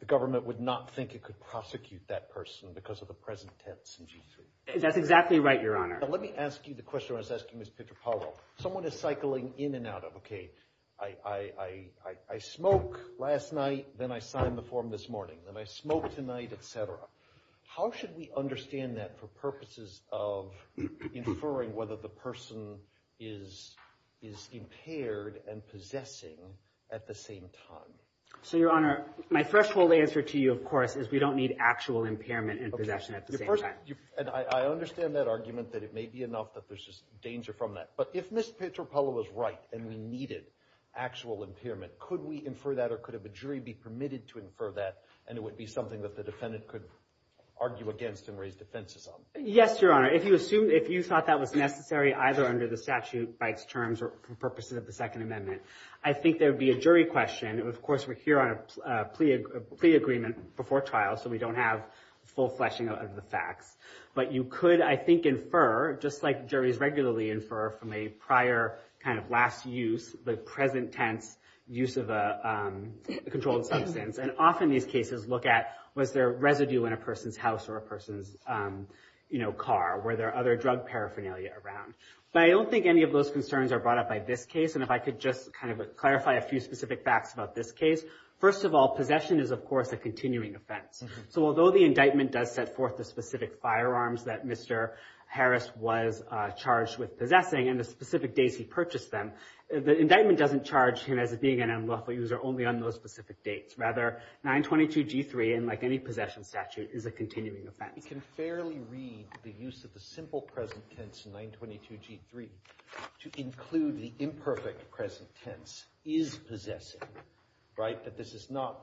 the government would not think it could prosecute that person because of the present tense in G3? That's exactly right, Your Honor. Now, let me ask you the question I was asking Ms. Pietropalo. Someone is cycling in and out of, okay, I smoke last night, then I sign the form this morning, then I smoke tonight, et cetera. How should we understand that for purposes of inferring whether the person is impaired and possessing at the same time? So, Your Honor, my threshold answer to you, of course, is we don't need actual impairment and possession at the same time. And I understand that argument that it may be enough that there's just danger from that. But if Ms. Pietropalo was right and we needed actual impairment, could we infer that or could a jury be permitted to infer that and it would be something that the defendant could argue against and raise defenses on? Yes, Your Honor. If you thought that was necessary either under the statute by its terms or for purposes of the Second Amendment, I think there would be a jury question. Of course, we're here on a plea agreement before trial, so we don't have full fleshing of the facts. But you could, I think, infer, just like juries regularly infer from a prior kind of last use, the present tense use of a controlled substance. And often these cases look at was there residue in a person's house or a person's car? Were there other drug paraphernalia around? But I don't think any of those concerns are brought up by this case. And if I could just kind of clarify a few specific facts about this case. First of all, possession is, of course, a continuing offense. So although the indictment does set forth the specific firearms that Mr. Harris was charged with possessing and the specific days he purchased them, the indictment doesn't charge him as being an unlawful user only on those specific dates. Rather, 922 G3, unlike any possession statute, is a continuing offense. We can fairly read the use of the simple present tense in 922 G3 to include the imperfect present tense, is possessive, right? But this is not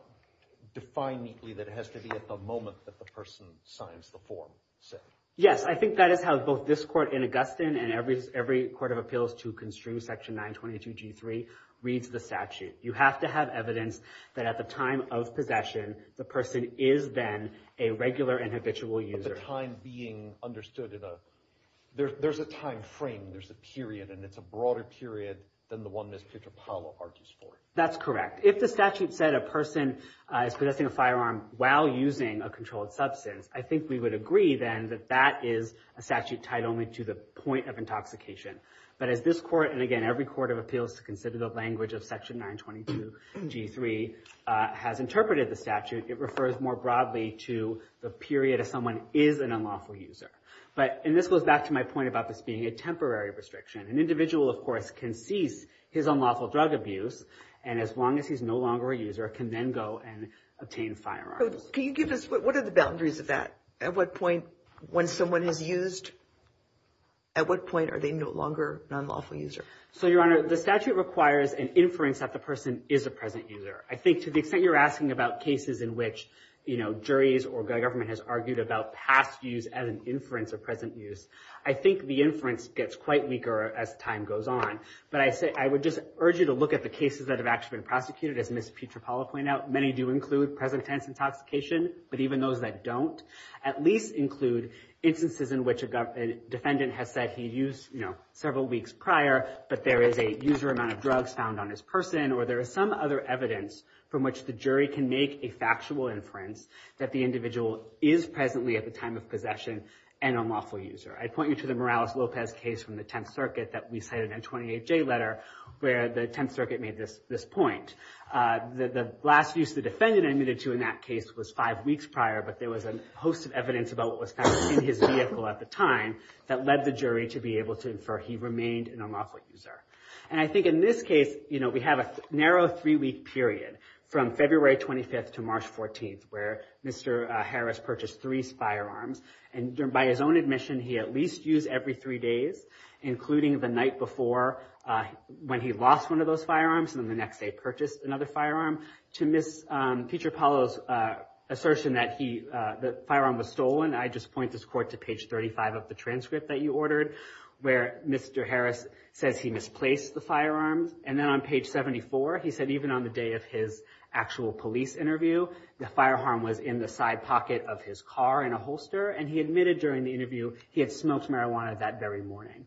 defined neatly that it has to be at the moment that the person signs the form. Yes, I think that is how both this court in Augustine and every court of appeals to constrain Section 922 G3 reads the statute. You have to have evidence that at the time of possession, the person is then a regular and habitual user. At the time being understood, there's a time frame, there's a period, and it's a broader period than the one Ms. Petropaulo argues for. That's correct. If the statute said a person is possessing a firearm while using a controlled substance, I think we would agree then that that is a statute tied only to the point of intoxication. But as this court and, again, every court of appeals to consider the language of Section 922 G3 has interpreted the statute, it refers more broadly to the period of someone is an unlawful user. And this goes back to my point about this being a temporary restriction. An individual, of course, can cease his unlawful drug abuse, and as long as he's no longer a user, can then go and obtain firearms. What are the boundaries of that? At what point, when someone is used, at what point are they no longer an unlawful user? So, Your Honor, the statute requires an inference that the person is a present user. I think to the extent you're asking about cases in which, you know, juries or government has argued about past use as an inference of present use, I think the inference gets quite weaker as time goes on. But I would just urge you to look at the cases that have actually been prosecuted, as Ms. Petropaulo pointed out. Many do include present tense intoxication, but even those that don't at least include instances in which a defendant has said he used, you know, several weeks prior, but there is a user amount of drugs found on his person, or there is some other evidence from which the jury can make a factual inference that the individual is presently at the time of possession an unlawful user. I'd point you to the Morales-Lopez case from the Tenth Circuit that we cited in 28J letter, where the Tenth Circuit made this point. The last use the defendant admitted to in that case was five weeks prior, but there was a host of evidence about what was found in his vehicle at the time that led the jury to be able to infer he remained an unlawful user. And I think in this case, you know, we have a narrow three-week period from February 25th to March 14th, where Mr. Harris purchased three firearms, and by his own admission, he at least used every three days, including the night before when he lost one of those firearms, and the next day purchased another firearm. To Ms. Picciopolo's assertion that the firearm was stolen, I just point this court to page 35 of the transcript that you ordered, where Mr. Harris says he misplaced the firearms. And then on page 74, he said even on the day of his actual police interview, the firearm was in the side pocket of his car in a holster, and he admitted during the interview he had smoked marijuana that very morning.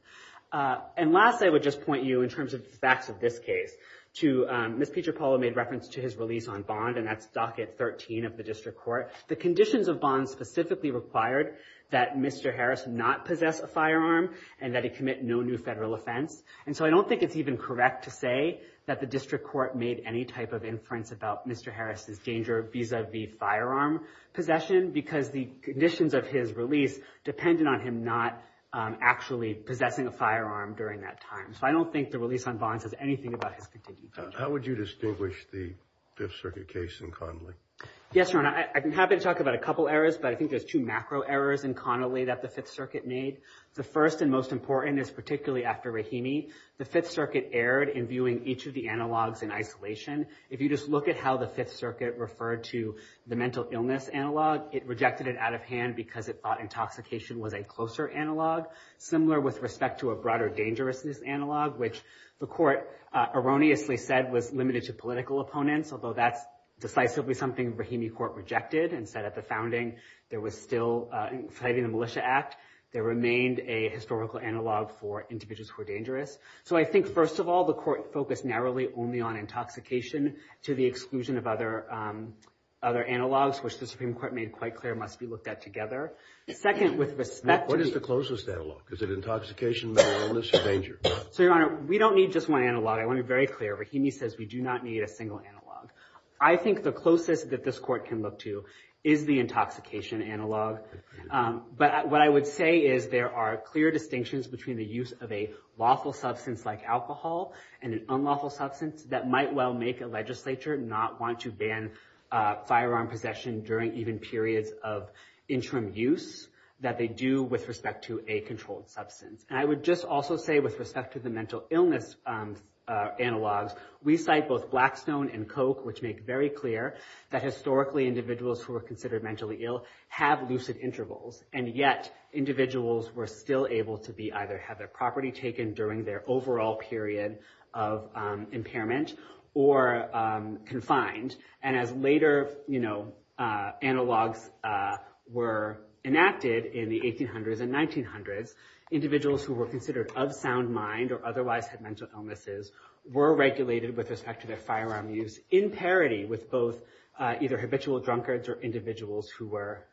And last, I would just point you, in terms of the facts of this case, to Ms. Picciopolo made reference to his release on bond, and that's docket 13 of the district court. The conditions of bond specifically required that Mr. Harris not possess a firearm and that he commit no new federal offense. And so I don't think it's even correct to say that the district court made any type of inference about Mr. Harris's danger vis-a-vis firearm possession, because the conditions of his release depended on him not actually possessing a firearm during that time. So I don't think the release on bond says anything about his continued danger. How would you distinguish the Fifth Circuit case and Connolly? Yes, Your Honor, I'm happy to talk about a couple errors, but I think there's two macro errors in Connolly that the Fifth Circuit made. The first and most important is particularly after Rahimi. The Fifth Circuit erred in viewing each of the analogs in isolation. If you just look at how the Fifth Circuit referred to the mental illness analog, it rejected it out of hand because it thought intoxication was a closer analog, similar with respect to a broader dangerousness analog, which the court erroneously said was limited to political opponents, although that's decisively something Rahimi Court rejected and said at the founding there was still, citing the Militia Act, there remained a historical analog for individuals who were dangerous. So I think, first of all, the court focused narrowly only on intoxication to the exclusion of other analogs, which the Supreme Court made quite clear must be looked at together. Second, with respect to— What is the closest analog? Is it intoxication, mental illness, or danger? So, Your Honor, we don't need just one analog. I want it very clear. Rahimi says we do not need a single analog. I think the closest that this court can look to is the intoxication analog. But what I would say is there are clear distinctions between the use of a lawful substance like alcohol and an unlawful substance that might well make a legislature not want to ban firearm possession during even periods of interim use that they do with respect to a controlled substance. And I would just also say with respect to the mental illness analogs, we cite both Blackstone and Coke, which make very clear that historically individuals who were considered mentally ill have lucid intervals, and yet individuals were still able to either have their property taken during their overall period of impairment or confined, and as later analogs were enacted in the 1800s and 1900s, individuals who were considered of sound mind or otherwise had mental illnesses were regulated with respect to their firearm use in parity with both either habitual drunkards or individuals who were...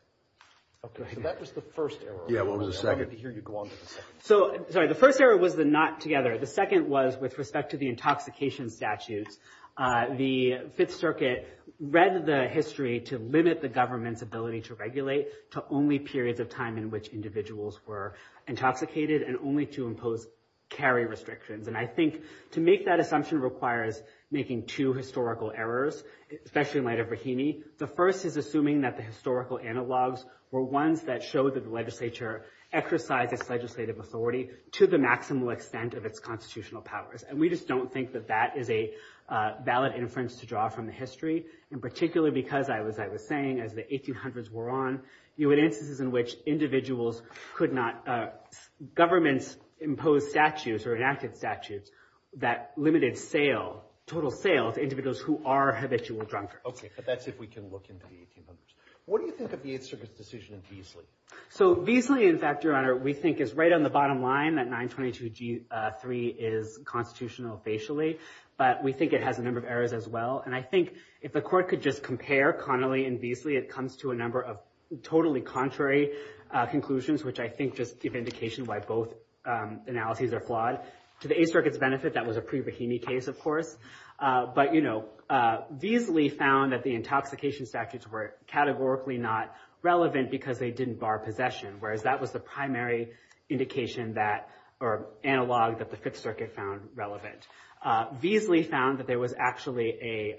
Okay, so that was the first error. Yeah, what was the second? I'd like to hear you go on to the second. So, sorry, the first error was the not together. The second was with respect to the intoxication statutes. The Fifth Circuit read the history to limit the government's ability to regulate to only periods of time in which individuals were intoxicated and only to impose carry restrictions. And I think to make that assumption requires making two historical errors, especially in light of Brahimi. The first is assuming that the historical analogs were ones that showed that the legislature exercised its legislative authority to the maximal extent of its constitutional powers. And we just don't think that that is a valid inference to draw from the history, in particular because, as I was saying, as the 1800s wore on, you had instances in which individuals could not... governments imposed statutes or enacted statutes that limited sale, total sale, to individuals who are habitual drunkards. Okay, but that's if we can look into the 1800s. What do you think of the Eighth Circuit's decision in Beasley? So Beasley, in fact, Your Honor, we think is right on the bottom line that 922G3 is constitutional facially, but we think it has a number of errors as well. And I think if the Court could just compare Connolly and Beasley, it comes to a number of totally contrary conclusions, which I think just give indication why both analyses are flawed. To the Eighth Circuit's benefit, that was a pre-Brahimi case, of course. But, you know, Beasley found that the intoxication statutes were categorically not relevant because they didn't bar possession, whereas that was the primary indication that... or analog that the Fifth Circuit found relevant. Beasley found that there was actually a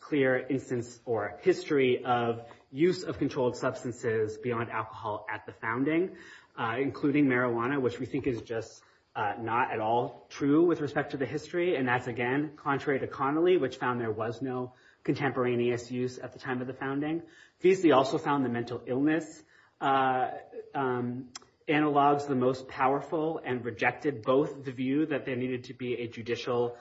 clear instance or history of use of controlled substances beyond alcohol at the founding, including marijuana, which we think is just not at all true with respect to the history. And that's, again, contrary to Connolly, which found there was no contemporaneous use at the time of the founding. Beasley also found the mental illness analogs the most powerful and rejected both the view that there needed to be a judicial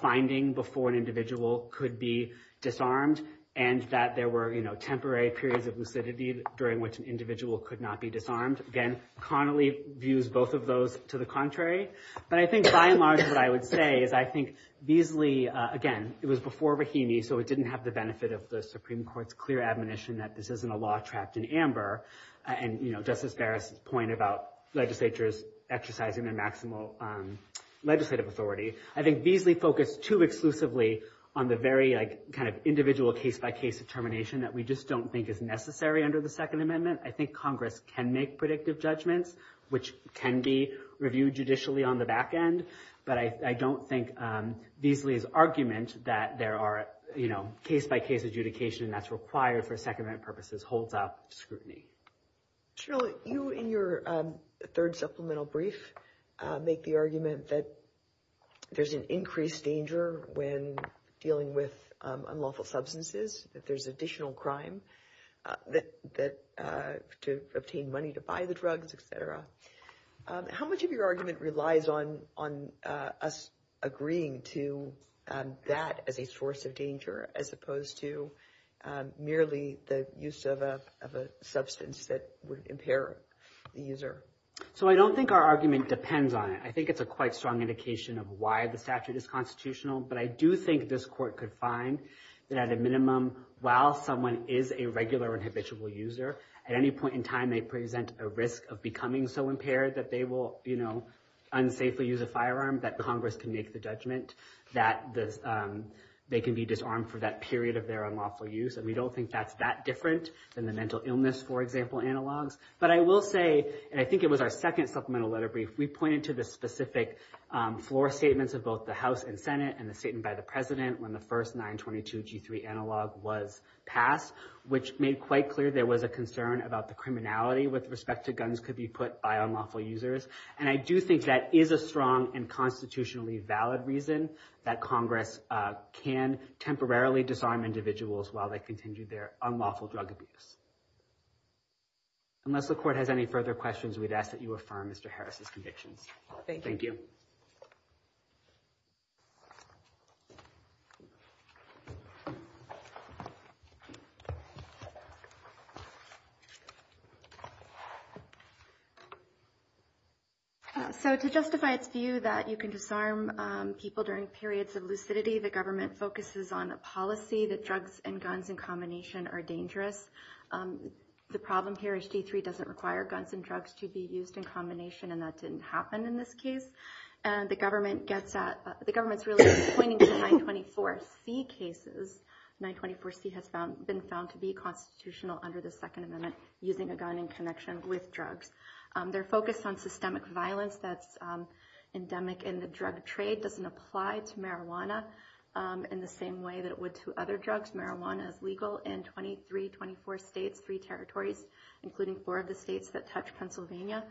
finding before an individual could be disarmed and that there were, you know, temporary periods of lucidity during which an individual could not be disarmed. Again, Connolly views both of those to the contrary. But I think by and large what I would say is I think Beasley, again, it was before Brahimi, so it didn't have the benefit of the Supreme Court's clear admonition that this isn't a law trapped in amber. And, you know, Justice Barrett's point about legislatures exercising their maximal legislative authority. I think Beasley focused too exclusively on the very, like, kind of individual case-by-case determination that we just don't think is necessary under the Second Amendment. I think Congress can make predictive judgments, which can be reviewed judicially on the back end. But I don't think Beasley's argument that there are, you know, case-by-case adjudication that's required for Second Amendment purposes holds out scrutiny. General, you in your third supplemental brief make the argument that there's an increased danger when dealing with unlawful substances, that there's additional crime to obtain money to buy the drugs, et cetera. How much of your argument relies on us agreeing to that as a source of danger as opposed to merely the use of a substance that would impair the user? So I don't think our argument depends on it. I think it's a quite strong indication of why the statute is constitutional. But I do think this Court could find that at a minimum, while someone is a regular and habitual user, at any point in time they present a risk of becoming so impaired that they will, you know, for that period of their unlawful use. And we don't think that's that different than the mental illness, for example, analogs. But I will say, and I think it was our second supplemental letter brief, we pointed to the specific floor statements of both the House and Senate, and the statement by the President when the first 922G3 analog was passed, which made quite clear there was a concern about the criminality with respect to guns could be put by unlawful users. And I do think that is a strong and constitutionally valid reason that Congress can temporarily disarm individuals while they continue their unlawful drug abuse. Unless the Court has any further questions, we'd ask that you affirm Mr. Harris's convictions. Thank you. So to justify its view that you can disarm people during periods of lucidity, the government focuses on a policy that drugs and guns in combination are dangerous. The problem here is G3 doesn't require guns and drugs to be used in combination, and that didn't happen in this case. The government's really pointing to 924C cases. 924C has been found to be constitutional under the Second Amendment, using a gun in connection with drugs. They're focused on systemic violence that's endemic in the drug trade, doesn't apply to marijuana in the same way that it would to other drugs. Marijuana is legal in 23, 24 states, three territories, including four of the states that touch Pennsylvania.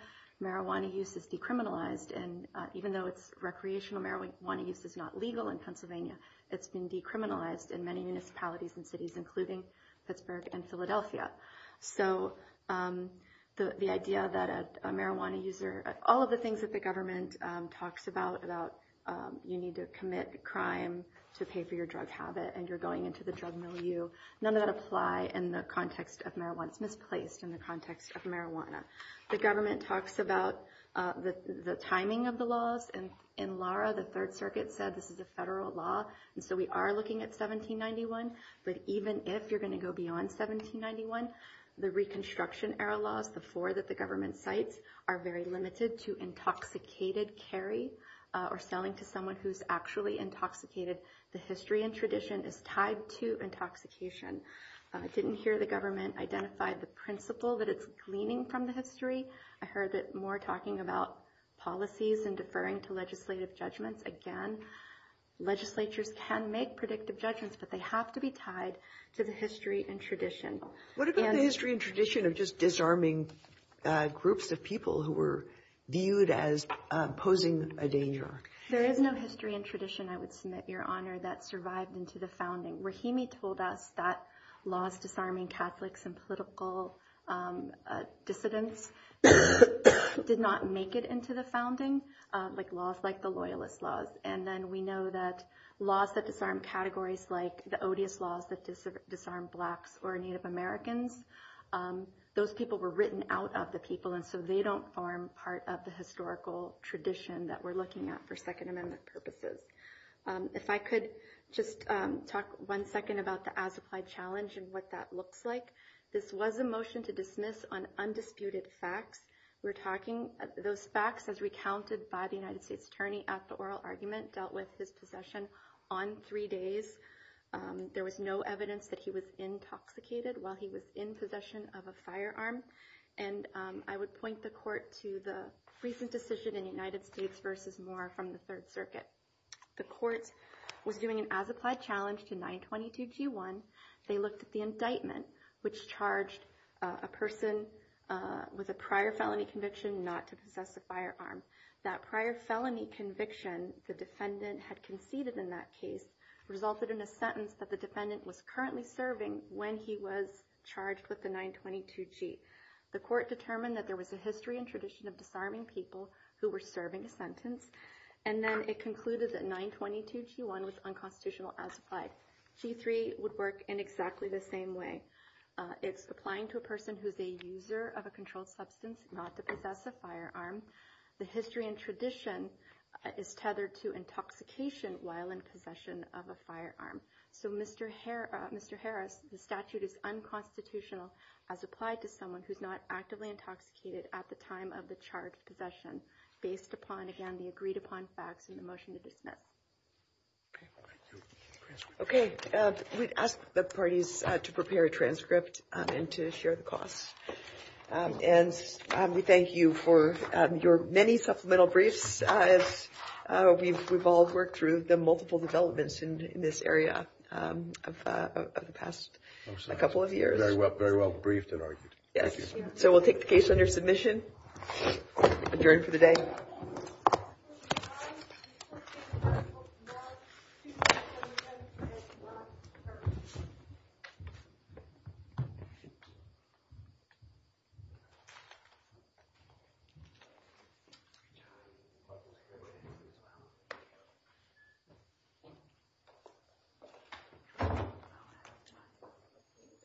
Marijuana use is decriminalized, and even though recreational marijuana use is not legal in Pennsylvania, it's been decriminalized in many municipalities and cities, including Pittsburgh and Philadelphia. So the idea that a marijuana user, all of the things that the government talks about, you need to commit a crime to pay for your drug habit and you're going into the drug milieu, none of that apply in the context of marijuana. It's misplaced in the context of marijuana. The government talks about the timing of the laws. In Lara, the Third Circuit said this is a federal law, and so we are looking at 1791. But even if you're going to go beyond 1791, the Reconstruction Era laws, the four that the government cites, are very limited to intoxicated carry or selling to someone who's actually intoxicated. The history and tradition is tied to intoxication. I didn't hear the government identify the principle that it's gleaning from the history. I heard it more talking about policies and deferring to legislative judgments. Again, legislatures can make predictive judgments, but they have to be tied to the history and tradition. What about the history and tradition of just disarming groups of people who were viewed as posing a danger? There is no history and tradition, I would submit, Your Honor, that survived into the founding. Rahimi told us that laws disarming Catholics and political dissidents did not make it into the founding, like laws like the Loyalist Laws. And then we know that laws that disarm categories like the Odious Laws that disarm blacks or Native Americans, those people were written out of the people, and so they don't form part of the historical tradition that we're looking at for Second Amendment purposes. If I could just talk one second about the as-applied challenge and what that looks like. This was a motion to dismiss on undisputed facts. Those facts, as recounted by the United States Attorney at the oral argument, dealt with his possession on three days. There was no evidence that he was intoxicated while he was in possession of a firearm. And I would point the Court to the recent decision in the United States v. Moore from the Third Circuit. The Court was doing an as-applied challenge to 922g1. They looked at the indictment, which charged a person with a prior felony conviction not to possess a firearm. That prior felony conviction the defendant had conceded in that case resulted in a sentence that the defendant was currently serving when he was charged with the 922g. The Court determined that there was a history and tradition of disarming people who were serving a sentence, and then it concluded that 922g1 was unconstitutional as applied. g3 would work in exactly the same way. It's applying to a person who's a user of a controlled substance not to possess a firearm. The history and tradition is tethered to intoxication while in possession of a firearm. So Mr. Harris, the statute is unconstitutional as applied to someone who's not actively intoxicated at the time of the charge of possession, based upon, again, the agreed-upon facts in the motion to dismiss. Okay. We'd ask the parties to prepare a transcript and to share the costs. And we thank you for your many supplemental briefs. We've all worked through the multiple developments in this area of the past couple of years. Very well briefed and argued. So we'll take the case under submission. Adjourned for the day. Thank you.